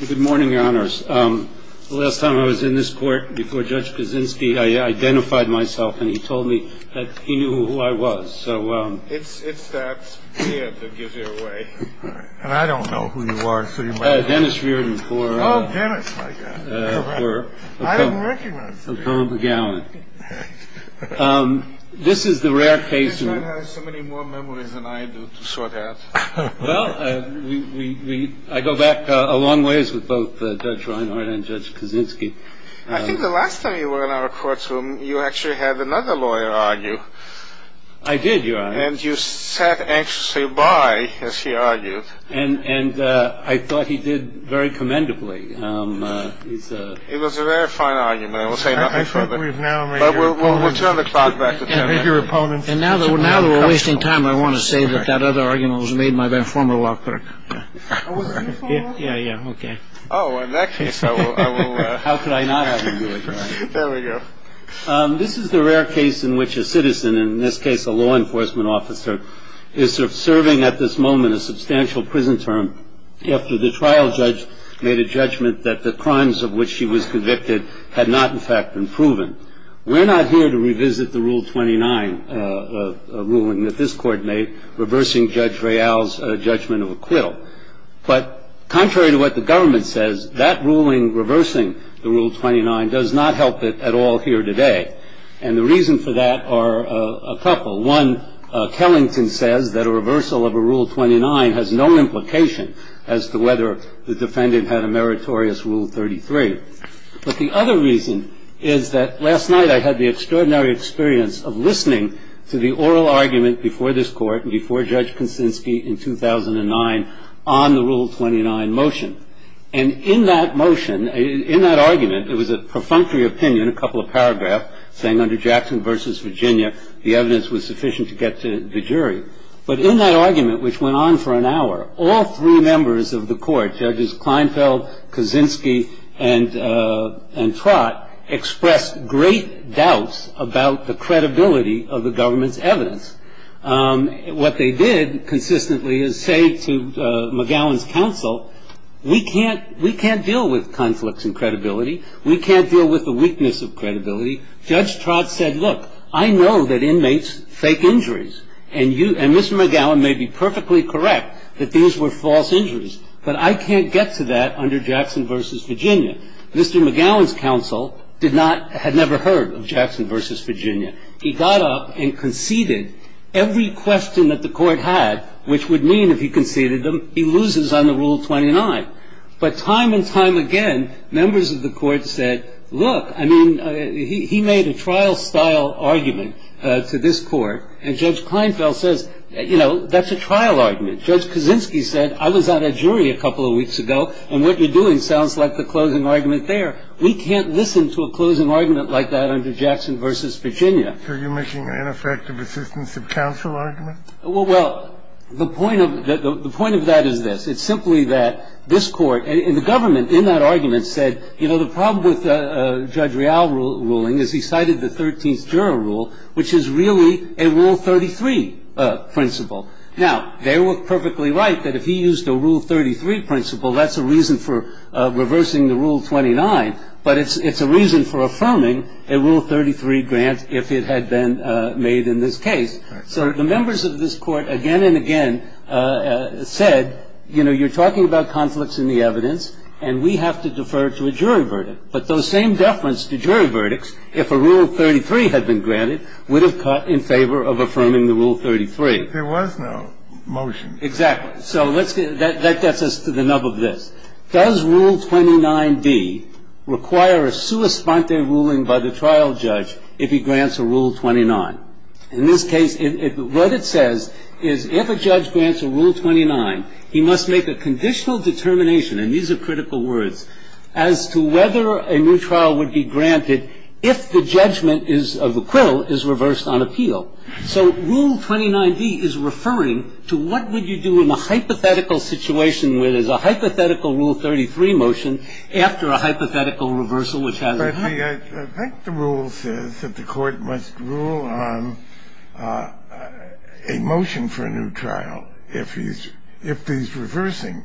Good morning, your honors. The last time I was in this court before Judge Kaczynski, I identified myself, and he told me that he knew who I was. It's that beard that gives you away. And I don't know who you are. Dennis Reardon. Oh, Dennis. I didn't recognize you. Robert McGowan. This is the rare case. I have so many more memories than I do to sort out. Well, I go back a long ways with both Judge Reinhardt and Judge Kaczynski. I think the last time you were in our courtroom, you actually had another lawyer argue. I did, your honors. And you sat anxiously by as he argued. And I thought he did very commendably. It was a very fine argument. I will say nothing further. We've now returned the clock back to your opponent. And now that we're wasting time, I want to say that that other argument was made by my former law clerk. Yeah. Yeah. OK. Oh, in that case. How could I not? There we go. This is the rare case in which a citizen, in this case, a law enforcement officer is serving at this moment, in a substantial prison term after the trial judge made a judgment that the crimes of which she was convicted had not, in fact, been proven. We're not here to revisit the Rule 29 ruling that this court made reversing Judge Real's judgment of acquittal. But contrary to what the government says, that ruling reversing the Rule 29 does not help it at all here today. And the reason for that are a couple. One, Kellington says that a reversal of a Rule 29 has no implication as to whether the defendant had a meritorious Rule 33. But the other reason is that last night I had the extraordinary experience of listening to the oral argument before this court, before Judge Kuczynski in 2009, on the Rule 29 motion. And in that motion, in that argument, there was a perfunctory opinion, a couple of paragraphs, saying under Jackson v. Virginia, the evidence was sufficient to get to the jury. But in that argument, which went on for an hour, all three members of the court, Judges Kleinfeld, Kuczynski, and Trott, expressed great doubts about the credibility of the government's evidence. What they did consistently is say to McGowan's counsel, we can't deal with conflicts in credibility. We can't deal with the weakness of credibility. Judge Trott said, look, I know that inmates fake injuries. And you, and Mr. McGowan may be perfectly correct that these were false injuries. But I can't get to that under Jackson v. Virginia. Mr. McGowan's counsel did not, had never heard of Jackson v. Virginia. He got up and conceded every question that the court had, which would mean if he conceded them, he loses on the Rule 29. But time and time again, members of the court said, look, I mean, he made a trial-style argument to this court. And Judge Kleinfeld says, you know, that's a trial argument. Judge Kuczynski said, I was on a jury a couple of weeks ago, and what you're doing sounds like the closing argument there. We can't listen to a closing argument like that under Jackson v. Virginia. So you're making an ineffective assistance of counsel argument? Well, the point of that is this. It's simply that this court and the government in that argument said, you know, the problem with Judge Real's ruling is he cited the 13th Juror Rule, which is really a Rule 33 principle. Now, they were perfectly right that if he used a Rule 33 principle, that's a reason for reversing the Rule 29. But it's a reason for affirming a Rule 33 grant if it had been made in this case. So the members of this court again and again said, you know, you're talking about conflicts in the evidence, and we have to defer to a jury verdict. But those same deference to jury verdicts, if a Rule 33 had been granted, would have caught in favor of affirming the Rule 33. There was no motion. Exactly. So let's get – that gets us to the nub of this. Does Rule 29b require a sua sponte ruling by the trial judge if he grants a Rule 29? In this case, what it says is if a judge grants a Rule 29, he must make a conditional determination, and these are critical words, as to whether a new trial would be granted if the judgment of the quill is reversed on appeal. So Rule 29b is referring to what would you do in a hypothetical situation where there's a hypothetical Rule 33 motion after a hypothetical reversal which has a hypothetical The rule says that the court must rule on a motion for a new trial if he's – if he's reversing.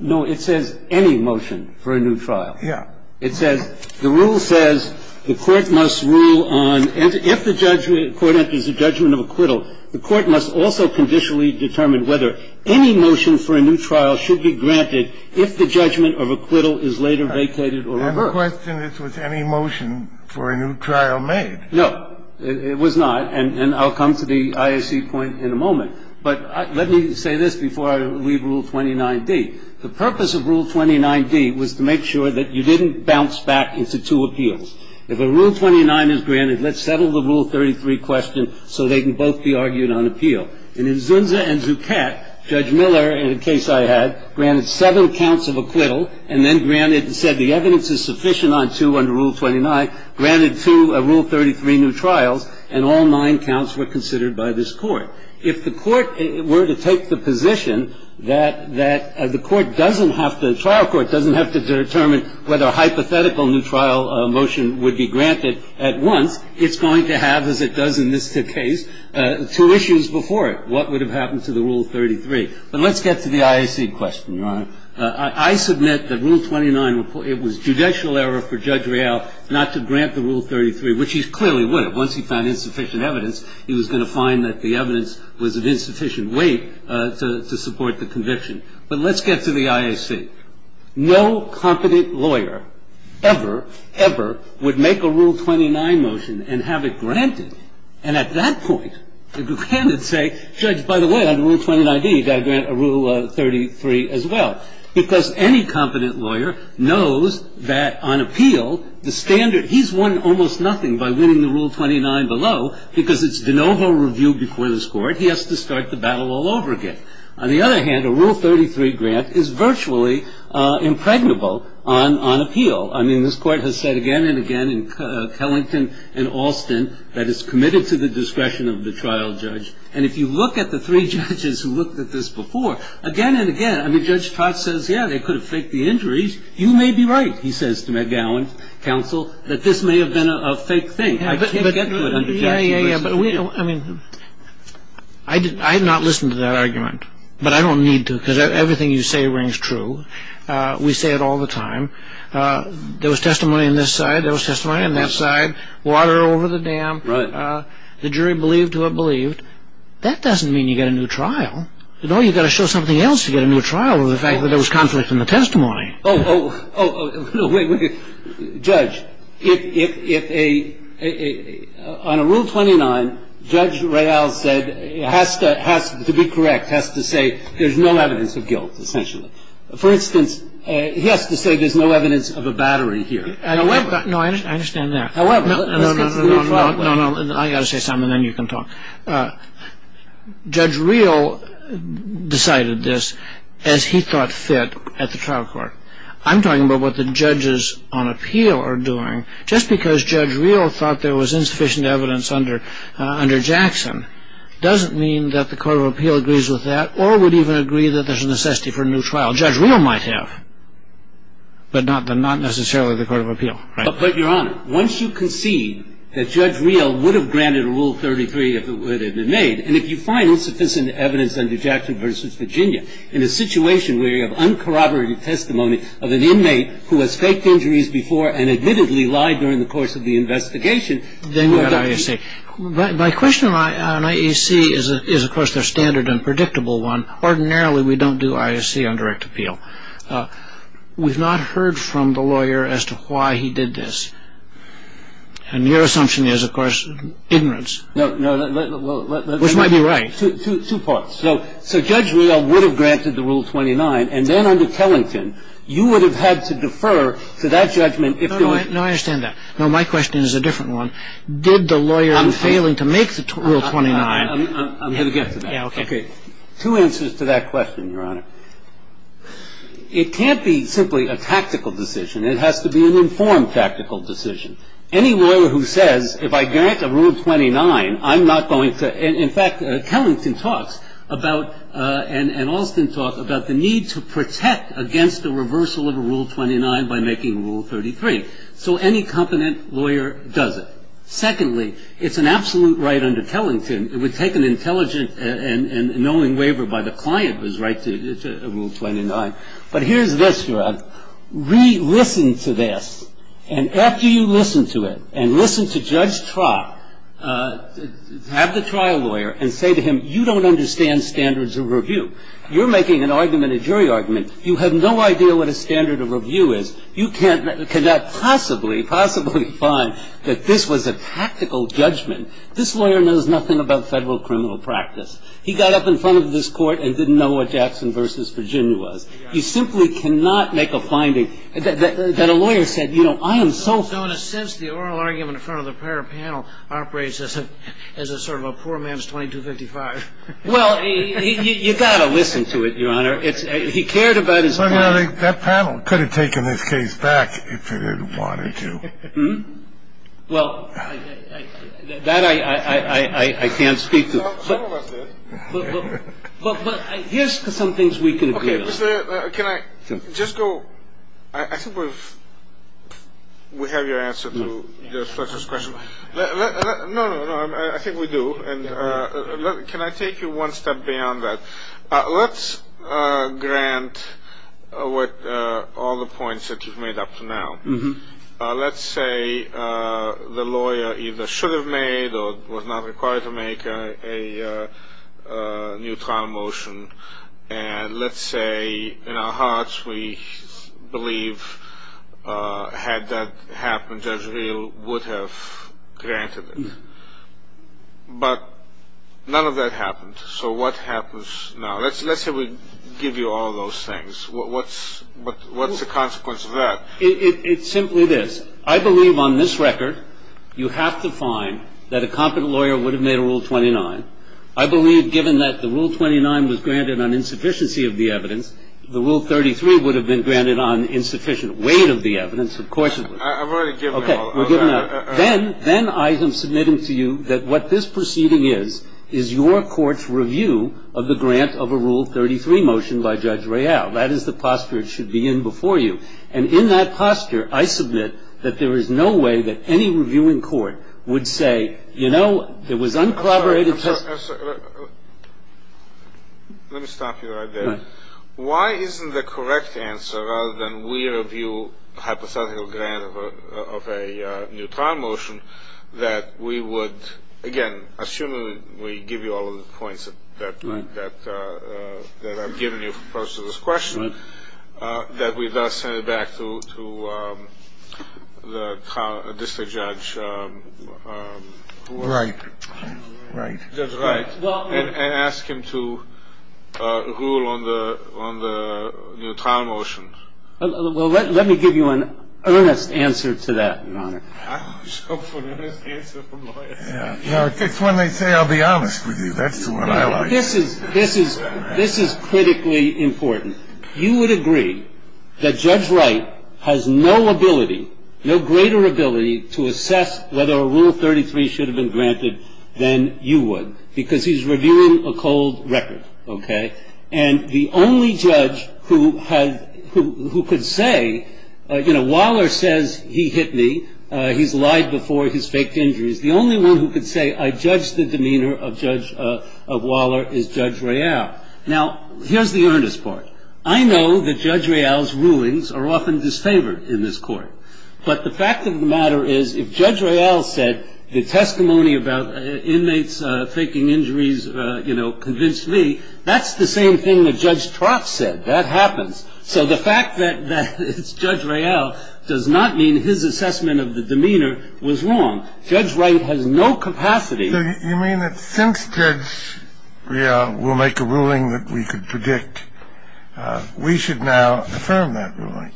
No. It says any motion for a new trial. Yeah. It says – the rule says the court must rule on – if the court enters a judgment of acquittal, the court must also conditionally determine whether any motion for a new trial should be granted if the judgment of acquittal is later vacated or reversed. So the question is, was any motion for a new trial made? No. It was not. And I'll come to the IOC point in a moment. But let me say this before I leave Rule 29d. The purpose of Rule 29d was to make sure that you didn't bounce back into two appeals. If a Rule 29 is granted, let's settle the Rule 33 question so they can both be argued on appeal. And in Zunza and Zucat, Judge Miller, in a case I had, granted seven counts of acquittal and then granted – said the evidence is sufficient on two under Rule 29, granted two Rule 33 new trials, and all nine counts were considered by this Court. If the Court were to take the position that the Court doesn't have to – the trial court doesn't have to determine whether a hypothetical new trial motion would be granted at once, it's going to have, as it does in this case, two issues before it. What would have happened to the Rule 33? But let's get to the IOC question, Your Honor. I submit that Rule 29, it was judicial error for Judge Real not to grant the Rule 33, which he clearly would have. Once he found insufficient evidence, he was going to find that the evidence was of insufficient weight to support the conviction. But let's get to the IOC. No competent lawyer ever, ever would make a Rule 29 motion and have it granted. And at that point, the defendant would say, Judge, by the way, under Rule 29d, you've any competent lawyer knows that on appeal, the standard – he's won almost nothing by winning the Rule 29 below because it's de novo review before this Court. He has to start the battle all over again. On the other hand, a Rule 33 grant is virtually impregnable on appeal. I mean, this Court has said again and again in Kellington and Alston that it's committed to the discretion of the trial judge. And if you look at the three judges who looked at this before, again and again, I mean, Judge Potts says, yeah, they could have faked the injuries. You may be right, he says to McGowan's counsel, that this may have been a fake thing. I can't get to it. Yeah, yeah, yeah. But we – I mean, I did not listen to that argument. But I don't need to because everything you say rings true. We say it all the time. There was testimony on this side. There was testimony on that side. Water over the dam. Right. The jury believed who it believed. That doesn't mean you get a new trial. No, you've got to show something else to get a new trial over the fact that there was conflict in the testimony. Oh, oh, oh. No, wait, wait. Judge, if a – on a Rule 29, Judge Real said has to be correct, has to say there's no evidence of guilt, essentially. For instance, he has to say there's no evidence of a battery here. No, I understand that. However, let's get to the new trial. No, no, no. I've got to say something and then you can talk. Judge Real decided this as he thought fit at the trial court. I'm talking about what the judges on appeal are doing. Just because Judge Real thought there was insufficient evidence under Jackson doesn't mean that the Court of Appeal agrees with that or would even agree that there's a necessity for a new trial. Judge Real might have, but not necessarily the Court of Appeal. But, Your Honor, once you concede that Judge Real would have granted Rule 33 if it had been made, and if you find insufficient evidence under Jackson v. Virginia, in a situation where you have uncorroborated testimony of an inmate who has faked injuries before and admittedly lied during the course of the investigation, then you've got IAC. My question on IAC is, of course, the standard and predictable one. Ordinarily, we don't do IAC on direct appeal. We've not heard from the lawyer as to why he did this. And your assumption is, of course, ignorance. No, no. Which might be right. Two parts. So Judge Real would have granted the Rule 29, and then under Tellington, you would have had to defer to that judgment if there was... No, I understand that. No, my question is a different one. Did the lawyer in failing to make the Rule 29... I'm going to get to that. Okay. Two answers to that question, Your Honor. It can't be simply a tactical decision. It has to be an informed tactical decision. Any lawyer who says, if I grant a Rule 29, I'm not going to... In fact, Tellington talks about, and Alston talks about the need to protect against the reversal of Rule 29 by making Rule 33. So any competent lawyer does it. Secondly, it's an absolute right under Tellington. It would take an intelligent and knowing waiver by the client to write a Rule 29. But here's this, Your Honor. Listen to this. And after you listen to it, and listen to Judge Trott, have the trial lawyer and say to him, you don't understand standards of review. You're making an argument, a jury argument. You have no idea what a standard of review is. You cannot possibly, possibly find that this was a tactical judgment. This lawyer knows nothing about federal criminal practice. He got up in front of this court and didn't know what Jackson v. Virginia was. He simply cannot make a finding that a lawyer said, you know, I am so... In a sense, the oral argument in front of the prior panel operates as a sort of a poor man's 2255. Well, you've got to listen to it, Your Honor. He cared about his... That panel could have taken this case back if it had wanted to. Well, that I can't speak to. Some of us did. But here's some things we can agree on. Can I just go... I think we have your answer to Fletcher's question. No, no, no. I think we do. Can I take you one step beyond that? Let's grant all the points that you've made up to now. Let's say the lawyer either should have made or was not required to make a new trial motion. And let's say in our hearts we believe had that happened, Judge Reel would have granted it. But none of that happened. So what happens now? Let's say we give you all those things. What's the consequence of that? Well, it's simply this. I believe on this record you have to find that a competent lawyer would have made a Rule 29. I believe given that the Rule 29 was granted on insufficiency of the evidence, the Rule 33 would have been granted on insufficient weight of the evidence. Of course it was. I've already given it all. Okay. Then I am submitting to you that what this proceeding is, is your court's review of the grant of a Rule 33 motion by Judge Reel. That is the posture it should be in before you. And in that posture, I submit that there is no way that any review in court would say, you know, it was uncorroborated testimony. I'm sorry. Let me stop you right there. Why isn't the correct answer, rather than we review hypothetical grant of a new trial motion, that we would, again, assuming we give you all of the points that I've given you for purposes of this question, that we thus send it back to the district judge. Right. Judge Wright. And ask him to rule on the new trial motion. Well, let me give you an earnest answer to that, Your Honor. I just hope for an earnest answer from lawyers. It's when they say I'll be honest with you. That's the one I like. This is critically important. You would agree that Judge Wright has no ability, no greater ability to assess whether a Rule 33 should have been granted than you would, because he's reviewing a cold record. Okay. And the only judge who could say, you know, Waller says he hit me. He's lied before. He's faked injuries. The only one who could say I judge the demeanor of Judge Waller is Judge Royale. Now, here's the earnest part. I know that Judge Royale's rulings are often disfavored in this court. But the fact of the matter is if Judge Royale said the testimony about inmates faking injuries, you know, convinced me, that's the same thing that Judge Troth said. That happens. So the fact that it's Judge Royale does not mean his assessment of the demeanor was wrong. Judge Wright has no capacity. So you mean that since Judge Royale will make a ruling that we could predict, we should now affirm that ruling?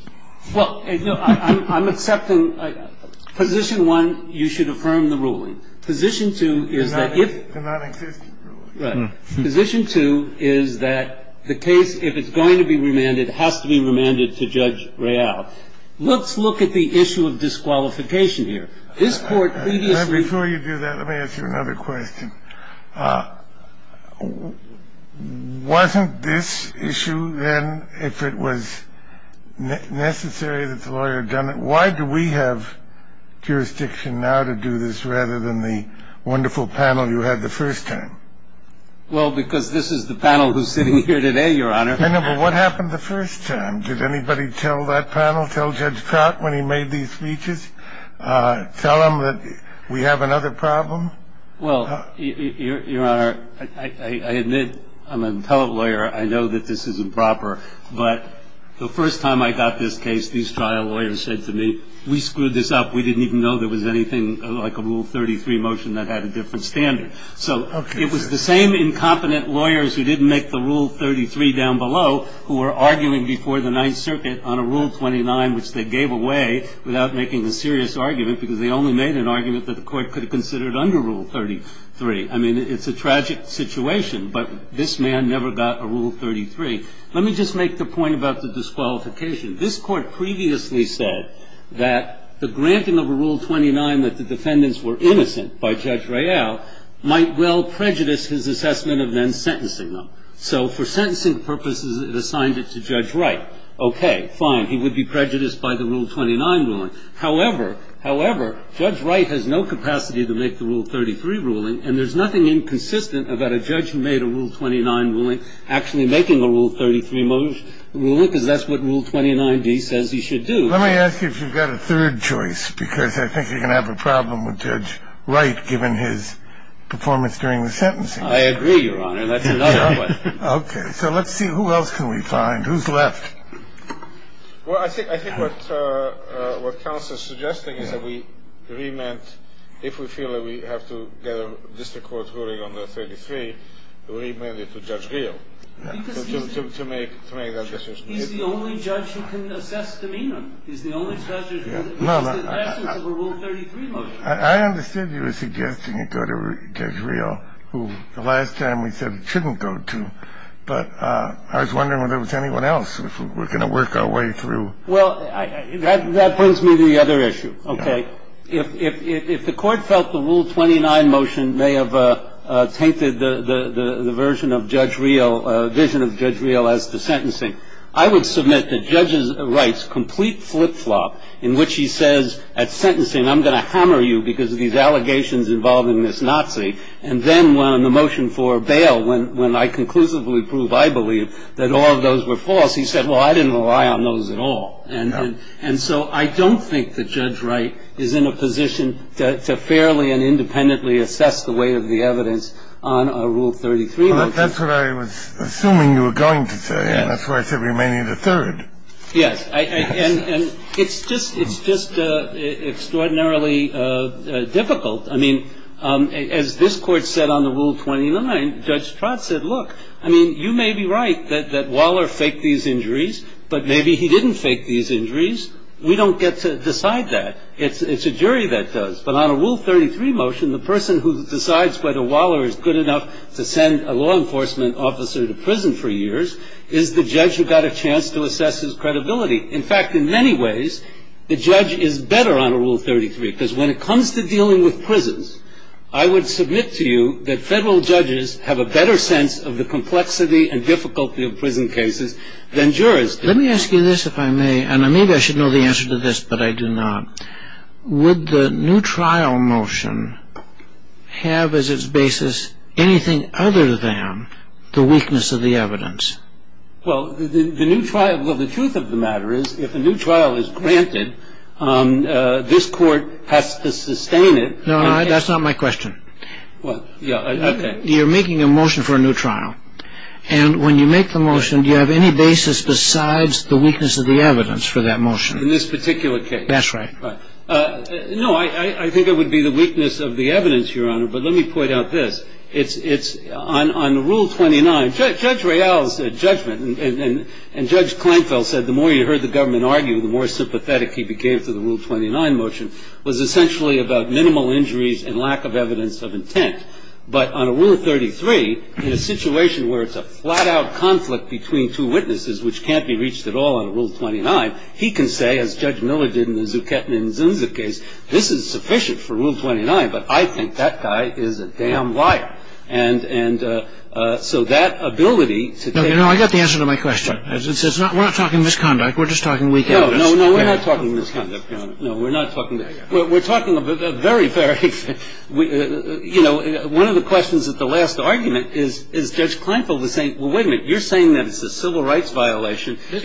Well, I'm accepting position one, you should affirm the ruling. Position two is that if the case, if it's going to be remanded, has to be remanded to Judge Royale. Let's look at the issue of disqualification here. Before you do that, let me ask you another question. Wasn't this issue then, if it was necessary that the lawyer had done it, why do we have jurisdiction now to do this rather than the wonderful panel you had the first time? Well, because this is the panel who's sitting here today, Your Honor. I know, but what happened the first time? Did anybody tell that panel, tell Judge Troth when he made these speeches, tell him that we have another problem? Well, Your Honor, I admit I'm an appellate lawyer. I know that this is improper. But the first time I got this case, these trial lawyers said to me, we screwed this up. We didn't even know there was anything like a Rule 33 motion that had a different standard. So it was the same incompetent lawyers who didn't make the Rule 33 down below who were arguing before the Ninth Circuit on a Rule 29 which they gave away without making a serious argument because they only made an argument that the Court could have considered under Rule 33. I mean, it's a tragic situation, but this man never got a Rule 33. Let me just make the point about the disqualification. This Court previously said that the granting of a Rule 29 that the defendants were innocent by Judge Royale might well prejudice his assessment of them sentencing them. So for sentencing purposes, it assigned it to Judge Wright. Okay, fine. He would be prejudiced by the Rule 29 ruling. However, however, Judge Wright has no capacity to make the Rule 33 ruling, and there's nothing inconsistent about a judge who made a Rule 29 ruling actually making a Rule 33 ruling because that's what Rule 29d says he should do. Let me ask you if you've got a third choice, because I think you're going to have a problem with Judge Wright given his performance during the sentencing. I agree, Your Honor. That's another question. Okay. So let's see. Who else can we find? Who's left? Well, I think what counsel is suggesting is that we remand, if we feel that we have to get a district court ruling under 33, we remand it to Judge Gheel to make that decision. He's the only judge who can assess demeanor. He's the only judge who can assess the essence of a Rule 33 motion. I understood you were suggesting it go to Judge Gheel, who the last time we said it shouldn't go to. But I was wondering whether there was anyone else we're going to work our way through. Well, that brings me to the other issue. Okay. If the Court felt the Rule 29 motion may have tainted the version of Judge Gheel, vision of Judge Gheel as to sentencing, I would submit that Judge Wright's complete flip-flop in which he says at sentencing, I'm going to hammer you because of these allegations involving this Nazi, and then when the motion for bail, when I conclusively prove I believe that all of those were false, he said, well, I didn't rely on those at all. And so I don't think that Judge Wright is in a position to fairly and independently assess the weight of the evidence on a Rule 33 motion. Well, that's what I was assuming you were going to say, and that's why I said remaining the third. Yes. And it's just extraordinarily difficult. I mean, as this Court said on the Rule 29, Judge Trott said, look, I mean, you may be right that Waller faked these injuries, but maybe he didn't fake these injuries. We don't get to decide that. It's a jury that does. But on a Rule 33 motion, the person who decides whether Waller is good enough to send a law enforcement officer to prison for years is the judge who got a chance to assess his credibility. In fact, in many ways, the judge is better on a Rule 33, because when it comes to dealing with prisons, I would submit to you that federal judges have a better sense of the complexity and difficulty of prison cases than jurors do. Let me ask you this, if I may, and maybe I should know the answer to this, but I do not. Would the new trial motion have as its basis anything other than the weakness of the evidence? Well, the truth of the matter is if a new trial is granted, this Court has to sustain it. No, that's not my question. You're making a motion for a new trial, and when you make the motion, do you have any basis besides the weakness of the evidence for that motion? In this particular case. That's right. No, I think it would be the weakness of the evidence, Your Honor, but let me point out this. It's on Rule 29. Judge Reill's judgment, and Judge Kleinfeld said the more you heard the government argue, the more sympathetic he became to the Rule 29 motion, was essentially about minimal injuries and lack of evidence of intent. But on a Rule 33, in a situation where it's a flat-out conflict between two witnesses, which can't be reached at all in a Rule 29, he can say, as Judge Miller did in the Zuchettin and Zunzitt case, this is sufficient for Rule 29, but I think that guy is a damn liar. And so that ability to take the case. No, I got the answer to my question. We're not talking misconduct. We're just talking weak evidence. No, no, we're not talking misconduct, Your Honor. No, we're not talking that. We're talking a very, very, you know, one of the questions at the last argument is, is Judge Kleinfeld the same? Well, wait a minute. You're saying that it's a civil rights violation. If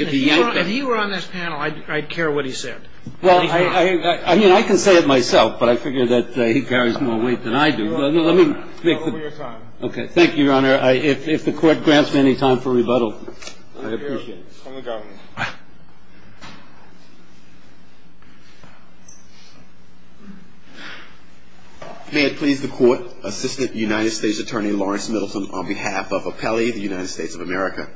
he were on this panel, I'd care what he said. Well, I mean, I can say it myself, but I figure that he carries more weight than I do. Well, let me make the point. Okay. Thank you, Your Honor. If the Court grants me any time for rebuttal, I appreciate it. From the government. May it please the Court, Assistant United States Attorney Lawrence Middleton, on behalf of Apelli, the United States of America.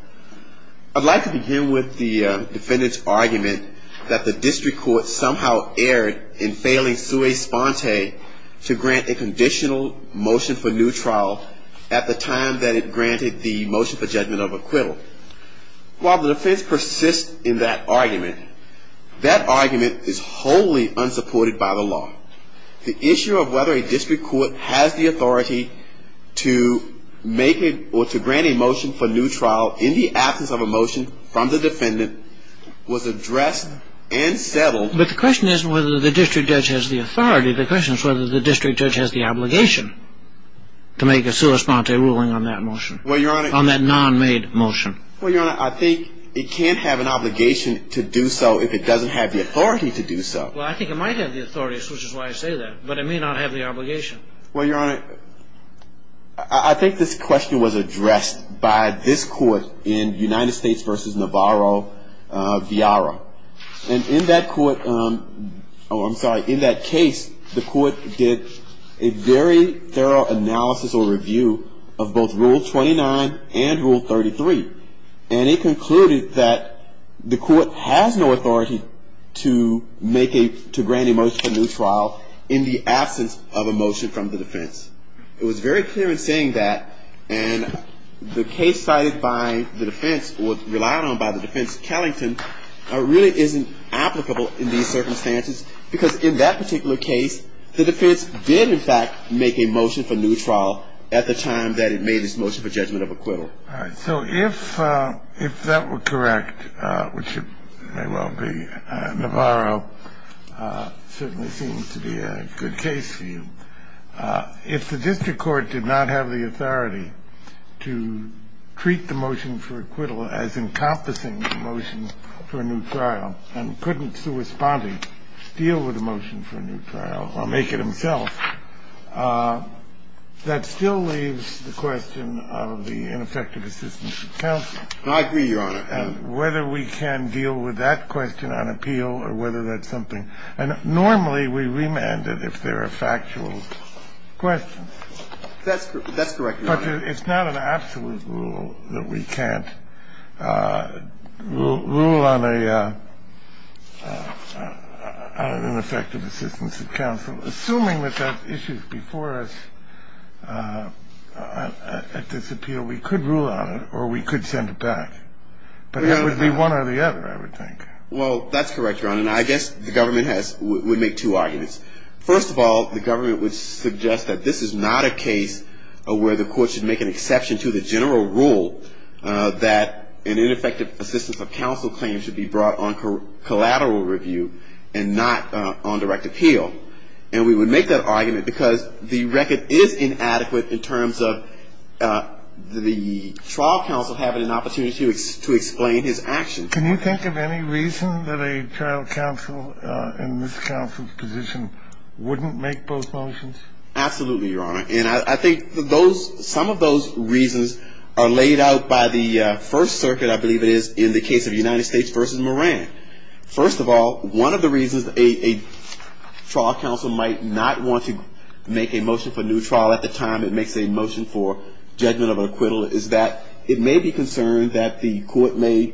I'd like to begin with the defendant's argument that the district court somehow erred in failing sui sponte to grant a conditional motion for new trial at the time that it granted the motion for judgment of acquittal. While the defense persists in that argument, that argument is wholly unsupported by the law. The issue of whether a district court has the authority to make or to grant a motion for new trial in the absence of a motion from the defendant was addressed and settled. But the question isn't whether the district judge has the authority. The question is whether the district judge has the obligation to make a sui sponte ruling on that motion. Well, Your Honor. On that non-made motion. Well, Your Honor, I think it can't have an obligation to do so if it doesn't have the authority to do so. Well, I think it might have the authority, which is why I say that. But it may not have the obligation. Well, Your Honor, I think this question was addressed by this Court in United States v. Navarro-Villara. And in that court, oh, I'm sorry, in that case, the court did a very thorough analysis or review of both Rule 29 and Rule 33. And it concluded that the court has no authority to make a, to grant a motion for new trial in the absence of a motion from the defense. It was very clear in saying that. And the case cited by the defense or relied on by the defense, Kellington, really isn't applicable in these circumstances. Because in that particular case, the defense did, in fact, make a motion for new trial at the time that it made its motion for judgment of acquittal. All right. So if that were correct, which it may well be, Navarro, certainly seems to be a good case for you. If the district court did not have the authority to treat the motion for acquittal as encompassing the motion for a new trial and couldn't sui sponte deal with a motion for a new trial or make it himself, that still leaves the question of the ineffective assistance of counsel. I agree, Your Honor. And whether we can deal with that question on appeal or whether that's something And normally we remand it if there are factual questions. That's correct, Your Honor. But it's not an absolute rule that we can't rule on an ineffective assistance of counsel. Assuming that that issue is before us at this appeal, we could rule on it or we could send it back. But it would be one or the other, I would think. Well, that's correct, Your Honor. And I guess the government would make two arguments. First of all, the government would suggest that this is not a case where the court should make an exception to the general rule that an ineffective assistance of counsel claim should be brought on collateral review and not on direct appeal. And we would make that argument because the record is inadequate in terms of the trial counsel having an opportunity to explain his actions. Can you think of any reason that a trial counsel in this counsel's position wouldn't make both motions? Absolutely, Your Honor. And I think some of those reasons are laid out by the First Circuit, I believe it is, in the case of United States v. Moran. First of all, one of the reasons a trial counsel might not want to make a motion for a new trial at the time it makes a motion for judgment of acquittal is that it may be concerned that the court may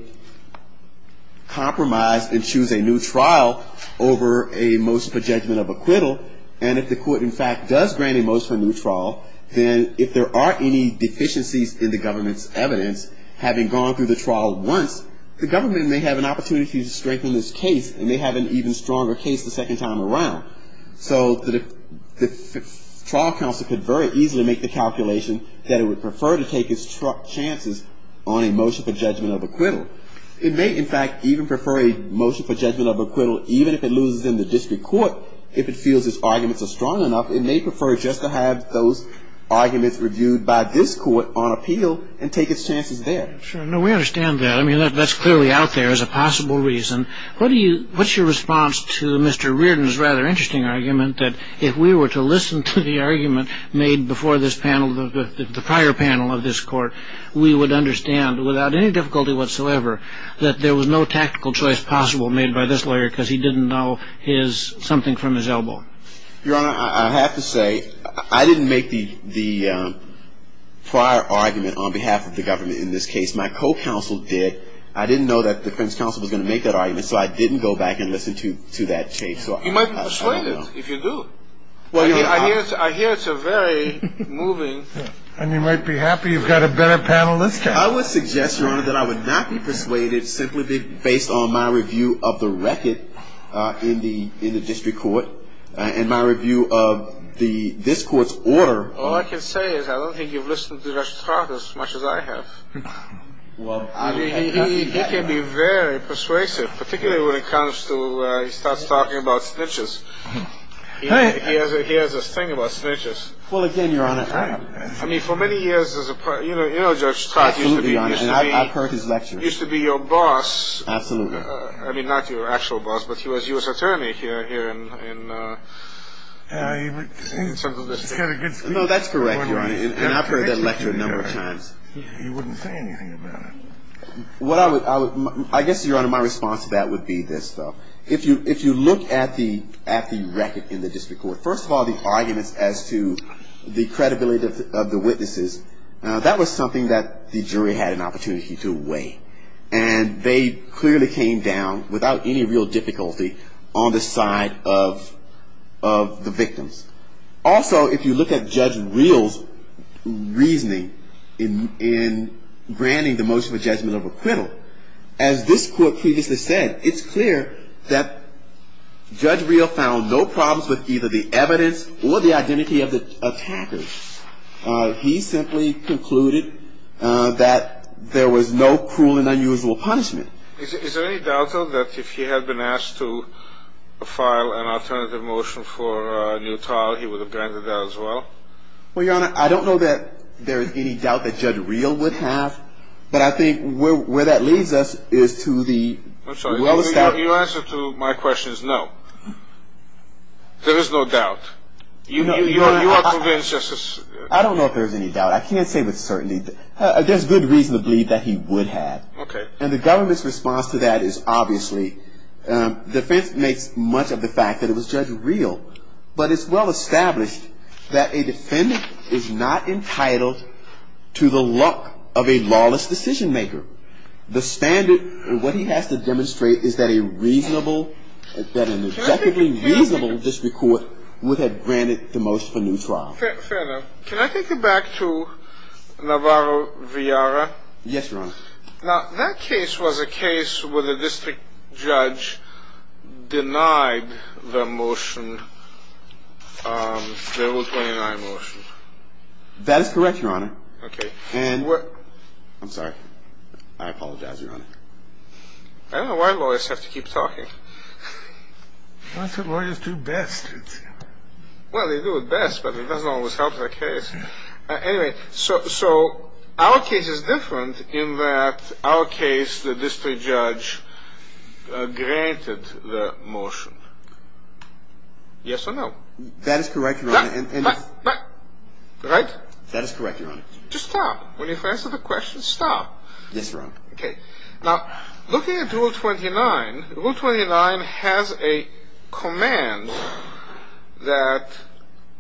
compromise and choose a new trial over a motion for judgment of acquittal. And if the court, in fact, does grant a motion for a new trial, then if there are any deficiencies in the government's evidence, having gone through the trial once, the government may have an opportunity to strengthen this case and may have an even stronger case the second time around. So the trial counsel could very easily make the calculation that it would prefer to take its chances on a motion for judgment of acquittal. It may, in fact, even prefer a motion for judgment of acquittal, even if it loses in the district court, if it feels its arguments are strong enough. It may prefer just to have those arguments reviewed by this court on appeal and take its chances there. Sure. No, we understand that. I mean, that's clearly out there as a possible reason. What's your response to Mr. Reardon's rather interesting argument that if we were to listen to the argument made before this panel, the prior panel of this court, we would understand without any difficulty whatsoever that there was no tactical choice possible made by this lawyer because he didn't know something from his elbow? Your Honor, I have to say I didn't make the prior argument on behalf of the government in this case. My co-counsel did. I didn't know that the defense counsel was going to make that argument, so I didn't go back and listen to that case. You might be persuaded if you do. I hear it's a very moving. And you might be happy you've got a better panel this time. I would suggest, Your Honor, that I would not be persuaded simply based on my review of the record in the district court and my review of this court's order. All I can say is I don't think you've listened to the record as much as I have. Well, I mean, he can be very persuasive, particularly when it comes to where he starts talking about snitches. He has this thing about snitches. Well, again, Your Honor. I mean, for many years, as a part of you know, Judge Stark used to be your boss. Absolutely. I mean, not your actual boss, but he was U.S. attorney here in Central Michigan. No, that's correct, Your Honor, and I've heard that lecture a number of times. He wouldn't say anything about it. I guess, Your Honor, my response to that would be this, though. If you look at the record in the district court, first of all, the arguments as to the credibility of the witnesses, that was something that the jury had an opportunity to weigh. And they clearly came down without any real difficulty on the side of the victims. Also, if you look at Judge Reel's reasoning in granting the motion for judgment of acquittal, as this court previously said, it's clear that Judge Reel found no problems with either the evidence or the identity of the attackers. He simply concluded that there was no cruel and unusual punishment. Is there any doubt, though, that if he had been asked to file an alternative motion for a new trial, he would have granted that as well? Well, Your Honor, I don't know that there is any doubt that Judge Reel would have, but I think where that leads us is to the well established... I'm sorry, you answered to my questions, no. There is no doubt. You are convinced... I don't know if there's any doubt. I can't say with certainty. There's good reason to believe that he would have. And the government's response to that is obviously defense makes much of the fact that it was Judge Reel. But it's well established that a defendant is not entitled to the luck of a lawless decision maker. The standard, what he has to demonstrate is that a reasonable, that an objectively reasonable district court would have granted the motion for new trial. Fair enough. Can I take you back to Navarro v. Yarra? Yes, Your Honor. Now, that case was a case where the district judge denied the motion, the Rule 29 motion. That is correct, Your Honor. Okay. And what... I'm sorry. I apologize, Your Honor. I don't know why lawyers have to keep talking. That's what lawyers do best. Well, they do it best, but it doesn't always help the case. Anyway, so our case is different in that our case, the district judge granted the motion. Yes or no? That is correct, Your Honor. Right? That is correct, Your Honor. Just stop. When you've answered the question, stop. Yes, Your Honor. Okay. Now, looking at Rule 29, Rule 29 has a command that,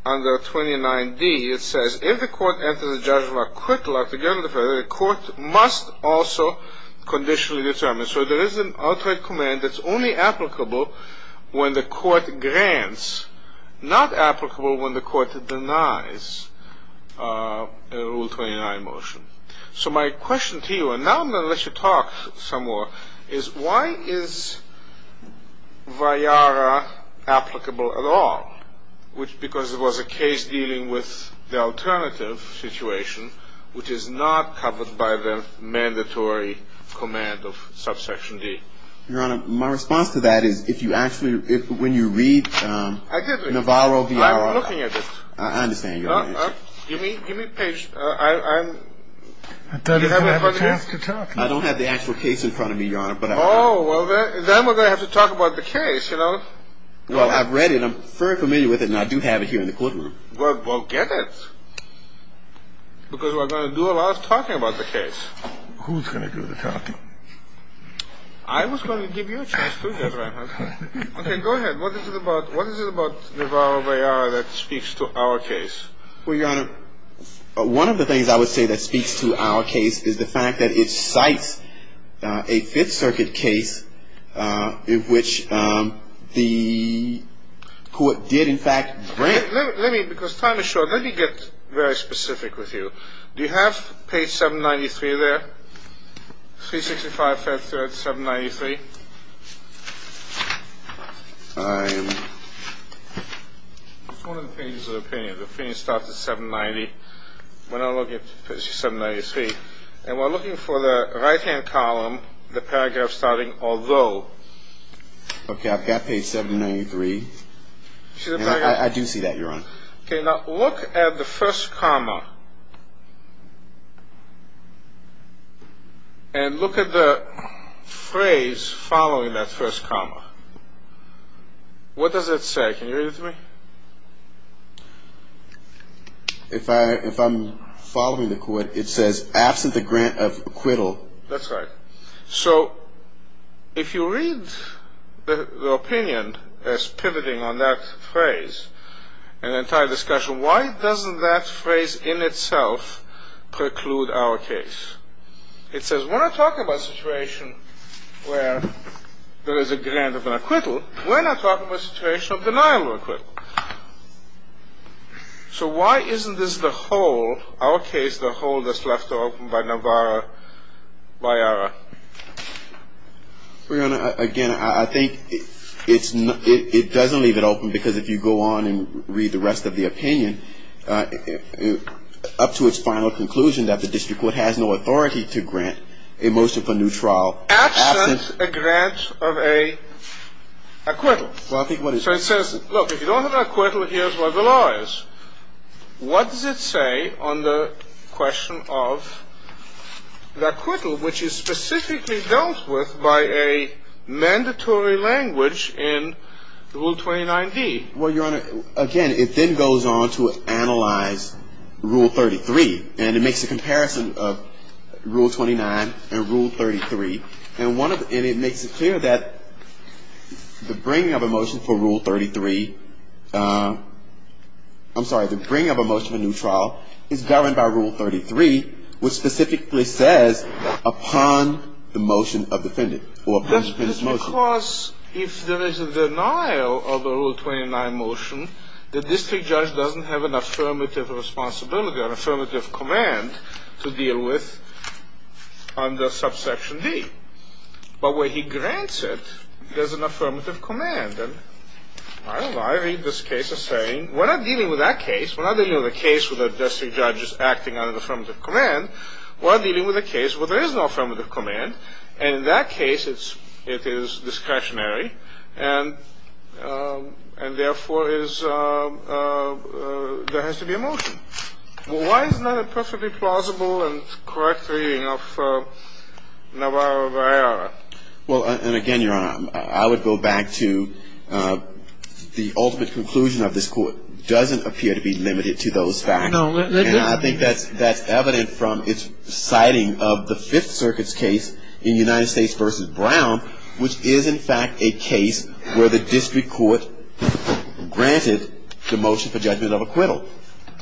under 29d, it says, if the court enters a judgment of quick luck to get rid of a defendant, the court must also conditionally determine. So there is an outright command that's only applicable when the court grants, not applicable when the court denies a Rule 29 motion. So my question to you, and now I'm going to let you talk some more, is why is VIARA applicable at all? Because it was a case dealing with the alternative situation, which is not covered by the mandatory command of Subsection D. Your Honor, my response to that is, if you actually, when you read Navarro, VIARA... I did read it. I'm looking at it. I understand. Give me a page. I'm... I don't have the chance to talk. I don't have the actual case in front of me, Your Honor. Oh, well, then we're going to have to talk about the case, you know. Well, I've read it. I'm very familiar with it, and I do have it here in the courtroom. Well, get it, because we're going to do a lot of talking about the case. Who's going to do the talking? I was going to give you a chance, too, Judge Reinhardt. Okay, go ahead. What is it about Navarro, VIARA that speaks to our case? Well, Your Honor, one of the things I would say that speaks to our case is the fact that it cites a Fifth Circuit case in which the court did, in fact, grant... Let me, because time is short. Let me get very specific with you. Do you have page 793 there, 365, 5th, 793? I'm... It's one of the pages of the opinion. The opinion starts at 790. We're not looking at page 793. And we're looking for the right-hand column, the paragraph starting, although. Okay, I've got page 793. I do see that, Your Honor. Okay, now look at the first comma. And look at the phrase following that first comma. What does it say? Can you read it to me? If I'm following the court, it says, absent the grant of acquittal. That's right. So if you read the opinion as pivoting on that phrase, an entire discussion, why doesn't that phrase in itself preclude our case? It says, when I'm talking about a situation where there is a grant of an acquittal, we're not talking about a situation of denial of acquittal. So why isn't this the whole, our case, the whole that's left open by Navarro, by Ira? Your Honor, again, I think it doesn't leave it open because if you go on and read the rest of the opinion, up to its final conclusion that the district court has no authority to grant a motion for new trial. Absent a grant of an acquittal. So it says, look, if you don't have an acquittal, here's what the law is. What does it say on the question of the acquittal, which is specifically dealt with by a mandatory language in Rule 29D? Well, Your Honor, again, it then goes on to analyze Rule 33. And it makes a comparison of Rule 29 and Rule 33. And it makes it clear that the bringing of a motion for Rule 33, I'm sorry, the bringing of a motion for new trial, is governed by Rule 33, which specifically says, upon the motion of defendant. Because if there is a denial of the Rule 29 motion, the district judge doesn't have an affirmative responsibility, an affirmative command to deal with under Subsection D. But where he grants it, there's an affirmative command. And I read this case as saying, we're not dealing with that case. We're not dealing with a case where the district judge is acting under the affirmative command. We're dealing with a case where there is no affirmative command. And in that case, it is discretionary. And therefore, there has to be a motion. Well, why is it not a perfectly plausible and correct reading of Navarro v. Ayala? Well, and again, Your Honor, I would go back to the ultimate conclusion of this Court doesn't appear to be limited to those facts. No, it doesn't. I think that's evident from its citing of the Fifth Circuit's case in United States v. Brown, which is, in fact, a case where the district court granted the motion for judgment of acquittal.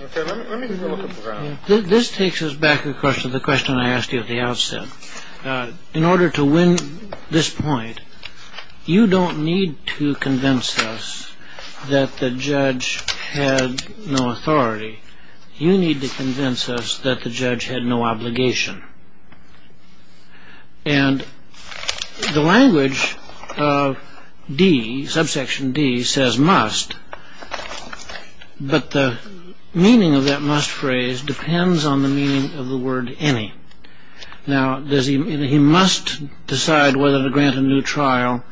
Okay. Let me look at Brown. This takes us back, of course, to the question I asked you at the outset. In order to win this point, you don't need to convince us that the judge had no authority. You need to convince us that the judge had no obligation. And the language of D, subsection D, says must, but the meaning of that must phrase depends on the meaning of the word any. Now, he must decide whether to grant a new trial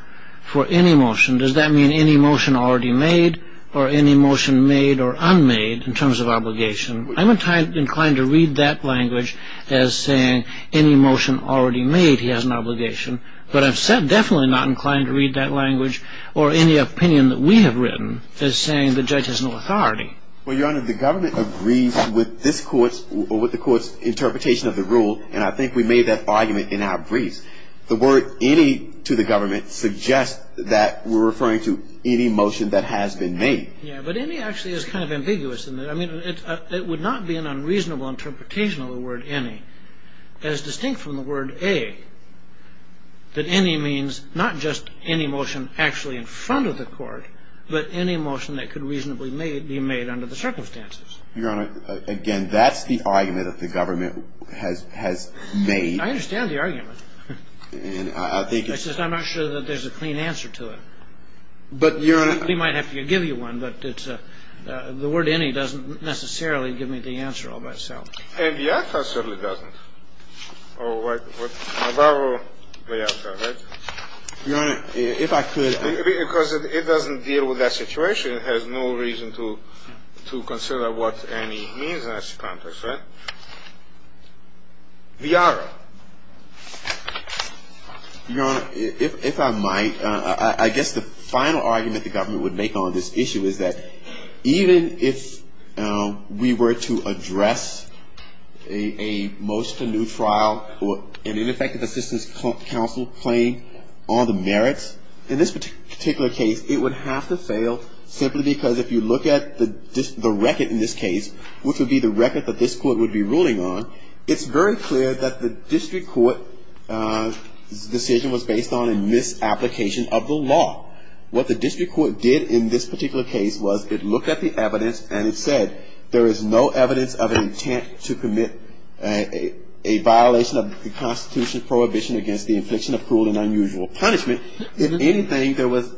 for any motion. Does that mean any motion already made or any motion made or unmade in terms of obligation? I'm inclined to read that language as saying any motion already made, he has an obligation. But I've said definitely not inclined to read that language or any opinion that we have written as saying the judge has no authority. Well, Your Honor, the government agrees with this Court's or with the Court's interpretation of the rule, and I think we made that argument in our briefs. The word any to the government suggests that we're referring to any motion that has been made. Yeah, but any actually is kind of ambiguous in that. I mean, it would not be an unreasonable interpretation of the word any as distinct from the word a that any means not just any motion actually in front of the Court, but any motion that could reasonably be made under the circumstances. Your Honor, again, that's the argument that the government has made. I understand the argument. And I think it's... I'm not sure that there's a clean answer to it. But, Your Honor... We might have to give you one, but it's a the word any doesn't necessarily give me the answer all by itself. And the other certainly doesn't. Oh, right. The other, right? Your Honor, if I could... Because it doesn't deal with that situation. It has no reason to consider what any means in that context, right? Viara. Your Honor, if I might, I guess the final argument the government would make on this issue is that even if we were to address a motion to new trial or an ineffective assistance counsel playing on the merits, in this particular case, it would have to fail simply because if you look at the record in this case, which would be the record that this Court would be ruling on, it's very clear that the district court's decision was based on a misapplication of the law. What the district court did in this particular case was it looked at the evidence and it said, there is no evidence of an intent to commit a violation of the Constitution's prohibition against the infliction of cruel and unusual punishment. If anything, there was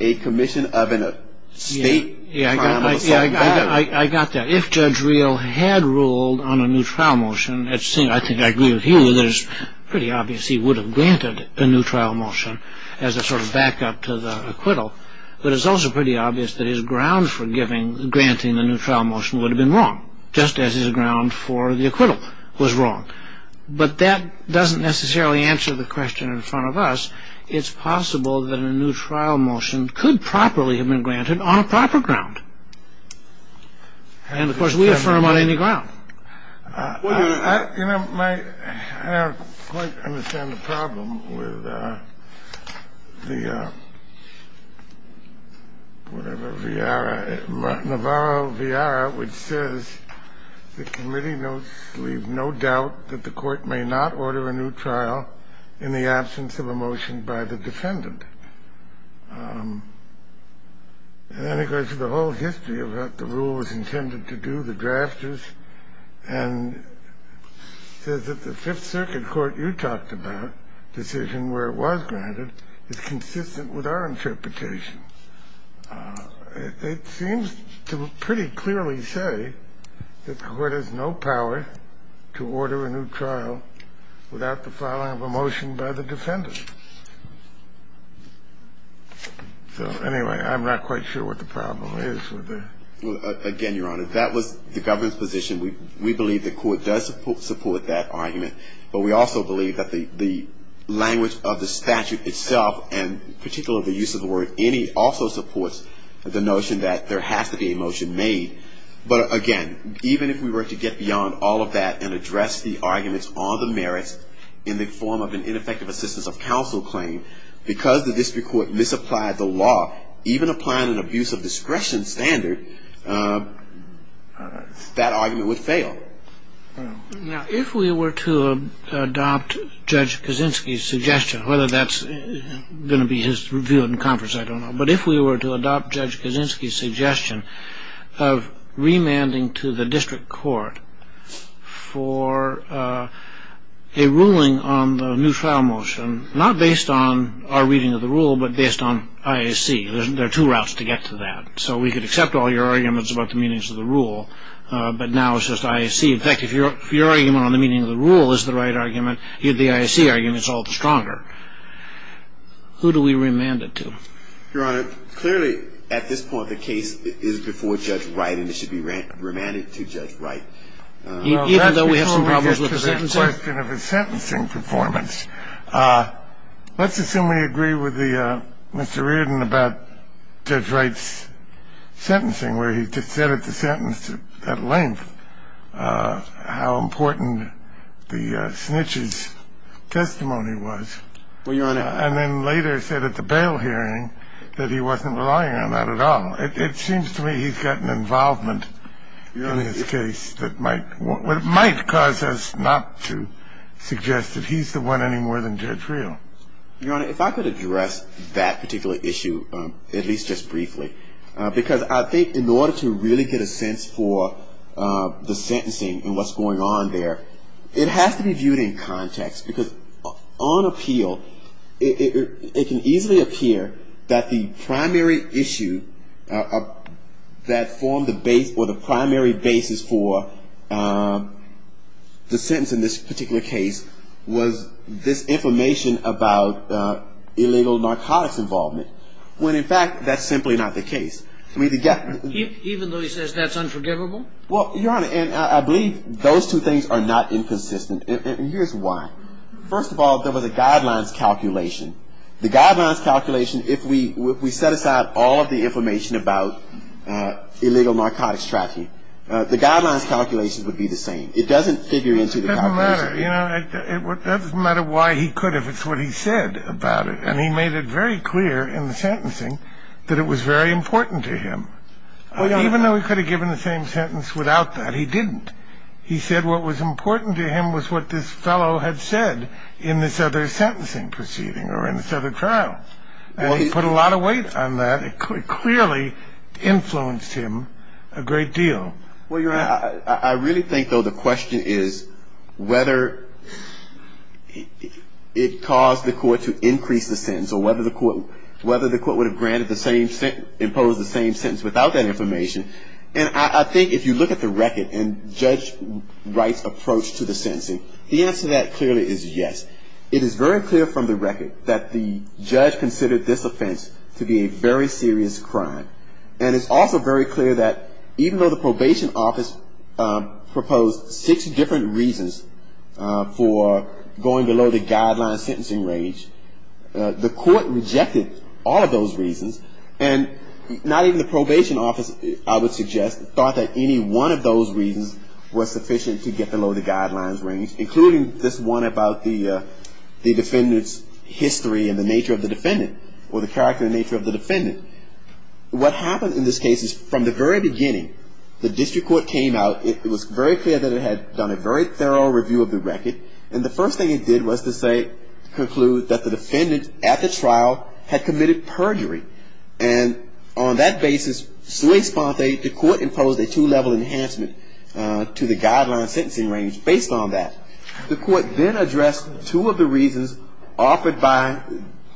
a commission of an estate trial of a certain value. I got that. If Judge Reel had ruled on a new trial motion, I think I agree with you that it's pretty obvious he would have granted a new trial motion as a sort of backup to the acquittal, but it's also pretty obvious that his ground for granting the new trial motion would have been wrong, just as his ground for the acquittal was wrong. But that doesn't necessarily answer the question in front of us. It's possible that a new trial motion could properly have been granted on a proper ground. And, of course, we affirm on any ground. You know, I don't quite understand the problem with the, whatever, Navarro-Villara, which says, The committee notes leave no doubt that the court may not order a new trial in the absence of a motion by the defendant. And then it goes to the whole history of what the rule was intended to do, the drafters, and says that the Fifth Circuit court you talked about, decision where it was granted, is consistent with our interpretation. It seems to pretty clearly say that the court has no power to order a new trial without the following of a motion by the defendant. So, anyway, I'm not quite sure what the problem is with that. Again, Your Honor, that was the government's position. We believe the court does support that argument, but we also believe that the language of the statute itself, and particularly the use of the word any, also supports the notion that there has to be a motion made. But, again, even if we were to get beyond all of that and address the arguments on the merits in the form of an ineffective assistance of counsel claim, because the district court misapplied the law, even applying an abuse of discretion standard, that argument would fail. Now, if we were to adopt Judge Kaczynski's suggestion, whether that's going to be his view in conference, I don't know. But if we were to adopt Judge Kaczynski's suggestion of remanding to the district court for a ruling on the new trial motion, not based on our reading of the rule, but based on IAC. There are two routes to get to that. So we could accept all your arguments about the meanings of the rule, but now it's just IAC. In fact, if your argument on the meaning of the rule is the right argument, the IAC argument is all the stronger. Who do we remand it to? Your Honor, clearly, at this point, the case is before Judge Wright, and it should be remanded to Judge Wright. Even though we have some problems with the sentencing? It's a question of his sentencing performance. Let's assume we agree with Mr. Reardon about Judge Wright's sentencing, where he just said at the sentence at length how important the snitch's testimony was. Well, Your Honor. And then later said at the bail hearing that he wasn't relying on that at all. It seems to me he's got an involvement in his case that might cause us not to suggest that he's the one any more than Judge Reardon. Your Honor, if I could address that particular issue, at least just briefly, because I think in order to really get a sense for the sentencing and what's going on there, it has to be viewed in context, because on appeal, it can easily appear that the primary issue that formed the base or the primary basis for the sentence in this particular case was this information about illegal narcotics involvement, when in fact that's simply not the case. Even though he says that's unforgivable? Well, Your Honor, and I believe those two things are not inconsistent. And here's why. First of all, there was a guidelines calculation. The guidelines calculation, if we set aside all of the information about illegal narcotics trafficking, the guidelines calculation would be the same. It doesn't figure into the calculation. It doesn't matter. You know, it doesn't matter why he could if it's what he said about it. And he made it very clear in the sentencing that it was very important to him. Even though he could have given the same sentence without that, he didn't. He said what was important to him was what this fellow had said in this other sentencing proceeding or in this other trial. And he put a lot of weight on that. It clearly influenced him a great deal. Well, Your Honor, I really think, though, the question is whether it caused the court to increase the sentence or whether the court would have imposed the same sentence without that information. And I think if you look at the record and Judge Wright's approach to the sentencing, the answer to that clearly is yes. It is very clear from the record that the judge considered this offense to be a very serious crime. And it's also very clear that even though the probation office proposed six different reasons for going below the guideline sentencing range, the court rejected all of those reasons and not even the probation office, I would suggest, thought that any one of those reasons was sufficient to get below the guidelines range, including this one about the defendant's history and the nature of the defendant or the character and nature of the defendant. What happened in this case is from the very beginning, the district court came out. It was very clear that it had done a very thorough review of the record. And the first thing it did was to say, conclude that the defendant at the trial had committed perjury. And on that basis, sui sponte, the court imposed a two-level enhancement to the guideline sentencing range based on that. The court then addressed two of the reasons offered by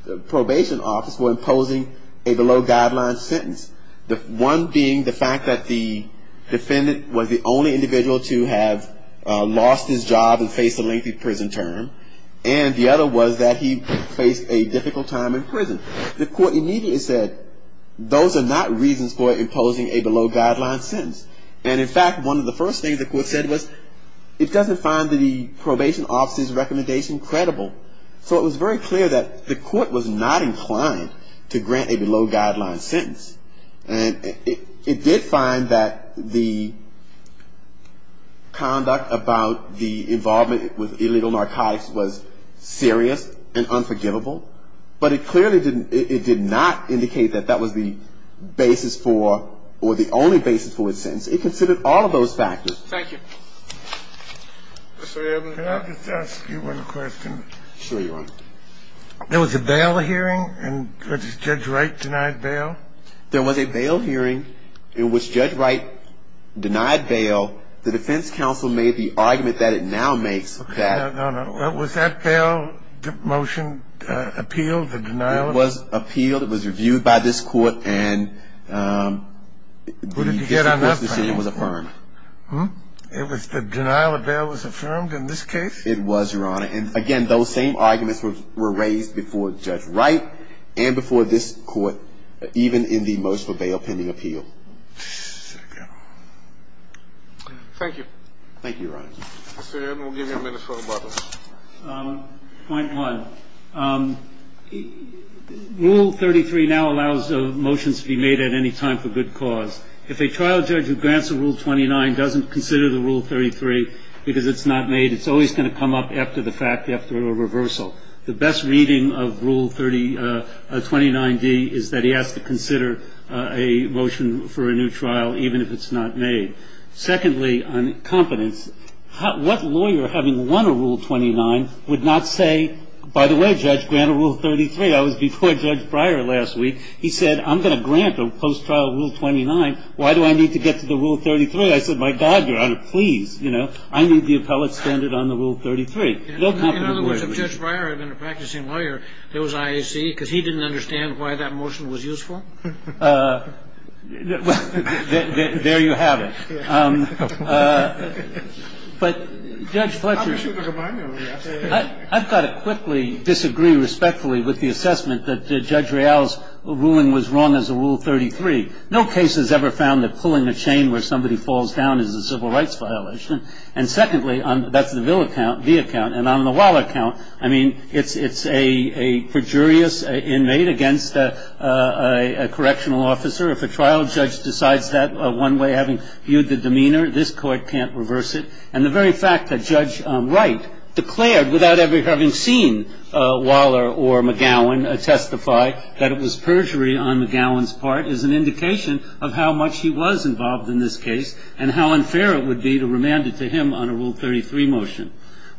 the probation office for imposing a below-guideline sentence, the one being the fact that the defendant was the only individual to have lost his job and faced a lengthy prison term. And the other was that he faced a difficult time in prison. The court immediately said those are not reasons for imposing a below-guideline sentence. And in fact, one of the first things the court said was it doesn't find the probation office's recommendation credible. So it was very clear that the court was not inclined to grant a below-guideline sentence. And it did find that the conduct about the involvement with illegal narcotics was serious and unforgivable. But it clearly didn't ñ it did not indicate that that was the basis for or the only basis for its sentence. It considered all of those factors. Thank you. Mr. Evans. Can I just ask you one question? Sure, Your Honor. There was a bail hearing, and was Judge Wright denied bail? There was a bail hearing. It was Judge Wright denied bail. The defense counsel made the argument that it now makes that ñ No, no. Was that bail motion appealed, the denial? It was appealed. It was reviewed by this court, and the district court's decision was affirmed. The denial of bail was affirmed in this case? It was, Your Honor. And again, those same arguments were raised before Judge Wright and before this court, even in the most for bail pending appeal. Thank you. Thank you, Your Honor. Mr. Evans, we'll give you a minute for a moment. Point one. Rule 33 now allows motions to be made at any time for good cause. If a trial judge who grants a Rule 29 doesn't consider the Rule 33 because it's not made, it's always going to come up after the fact, after a reversal. The best reading of Rule 29d is that he has to consider a motion for a new trial, even if it's not made. Secondly, on competence, what lawyer, having won a Rule 29, would not say, by the way, Judge, grant a Rule 33? I was before Judge Breyer last week. He said, I'm going to grant a post-trial Rule 29. Why do I need to get to the Rule 33? I said, my God, Your Honor, please. I need the appellate standard on the Rule 33. In other words, if Judge Breyer had been a practicing lawyer, there was IAC, because he didn't understand why that motion was useful? There you have it. But, Judge Fletcher, I've got to quickly disagree respectfully with the assessment that Judge Real's ruling was wrong as a Rule 33. No case has ever found that pulling a chain where somebody falls down is a civil rights violation. And, secondly, that's the Ville account, and on the Waller account, I mean, it's a perjurious inmate against a correctional officer. If a trial judge decides that one way, having viewed the demeanor, this Court can't reverse it. And the very fact that Judge Wright declared without ever having seen Waller or McGowan testify that it was perjury on McGowan's part is an indication of how much he was involved in this case and how unfair it would be to remand it to him on a Rule 33 motion.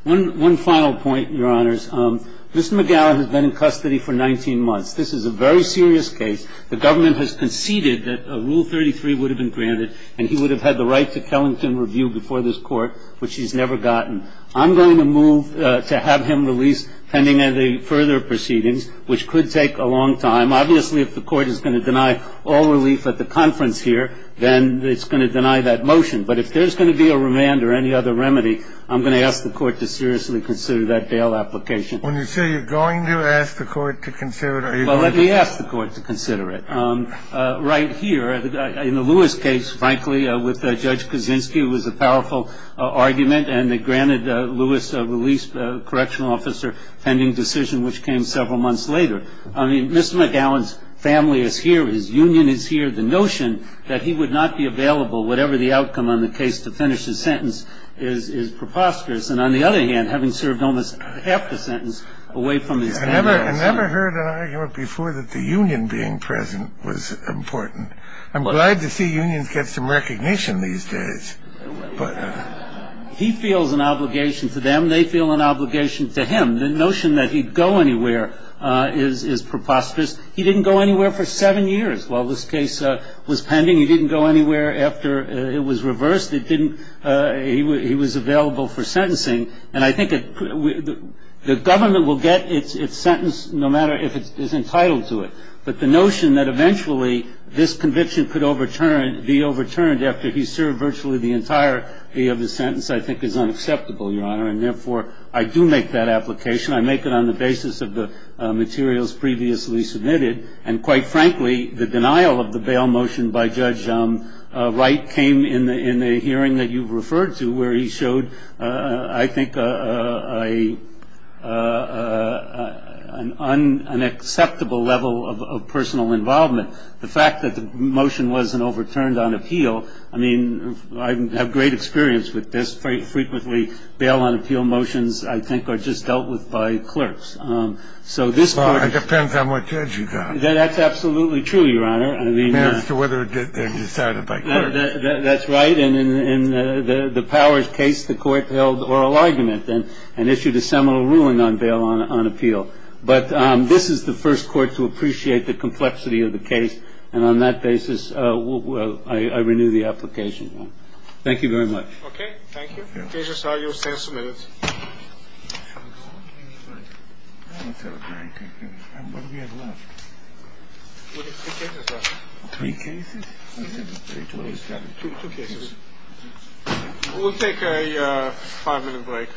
One final point, Your Honors. Mr. McGowan has been in custody for 19 months. This is a very serious case. The government has conceded that a Rule 33 would have been granted and he would have had the right to Kellington review before this Court, which he's never gotten. I'm going to move to have him released pending any further proceedings, which could take a long time. Obviously, if the Court is going to deny all relief at the conference here, then it's going to deny that motion. But if there's going to be a remand or any other remedy, I'm going to ask the Court to seriously consider that bail application. When you say you're going to ask the Court to consider it, are you going to say no? Well, let me ask the Court to consider it. Mr. McGowan's family is here. His union is here. The notion that he would not be available, whatever the outcome on the case, to finish his sentence is preposterous. And on the other hand, having served almost half the sentence away from his family. I've never heard an argument before that the union being present is not sufficient. It's not sufficient. It's not sufficient. It's not sufficient. That was important. I'm glad to see unions get some recognition these days. He feels an obligation to them. They feel an obligation to him. The notion that he'd go anywhere is preposterous. He didn't go anywhere for seven years while this case was pending. He didn't go anywhere after it was reversed. He was available for sentencing. And I think the government will get its sentence no matter if it's entitled to it. But the notion that eventually this conviction could be overturned after he served virtually the entire day of his sentence, I think is unacceptable, Your Honor. And therefore, I do make that application. I make it on the basis of the materials previously submitted. And quite frankly, the denial of the bail motion by Judge Wright came in the hearing that you've referred to, where he showed, I think, an unacceptable level of personal involvement. The fact that the motion wasn't overturned on appeal, I mean, I have great experience with this. Frequently, bail on appeal motions, I think, are just dealt with by clerks. Well, it depends on what judge you got. That's absolutely true, Your Honor. As to whether they're decided by clerks. That's right. And in the Powers case, the court held oral argument and issued a seminal ruling on bail on appeal. But this is the first court to appreciate the complexity of the case. And on that basis, I renew the application. Thank you very much. Okay. Thank you. Three cases. We'll take a five minute break.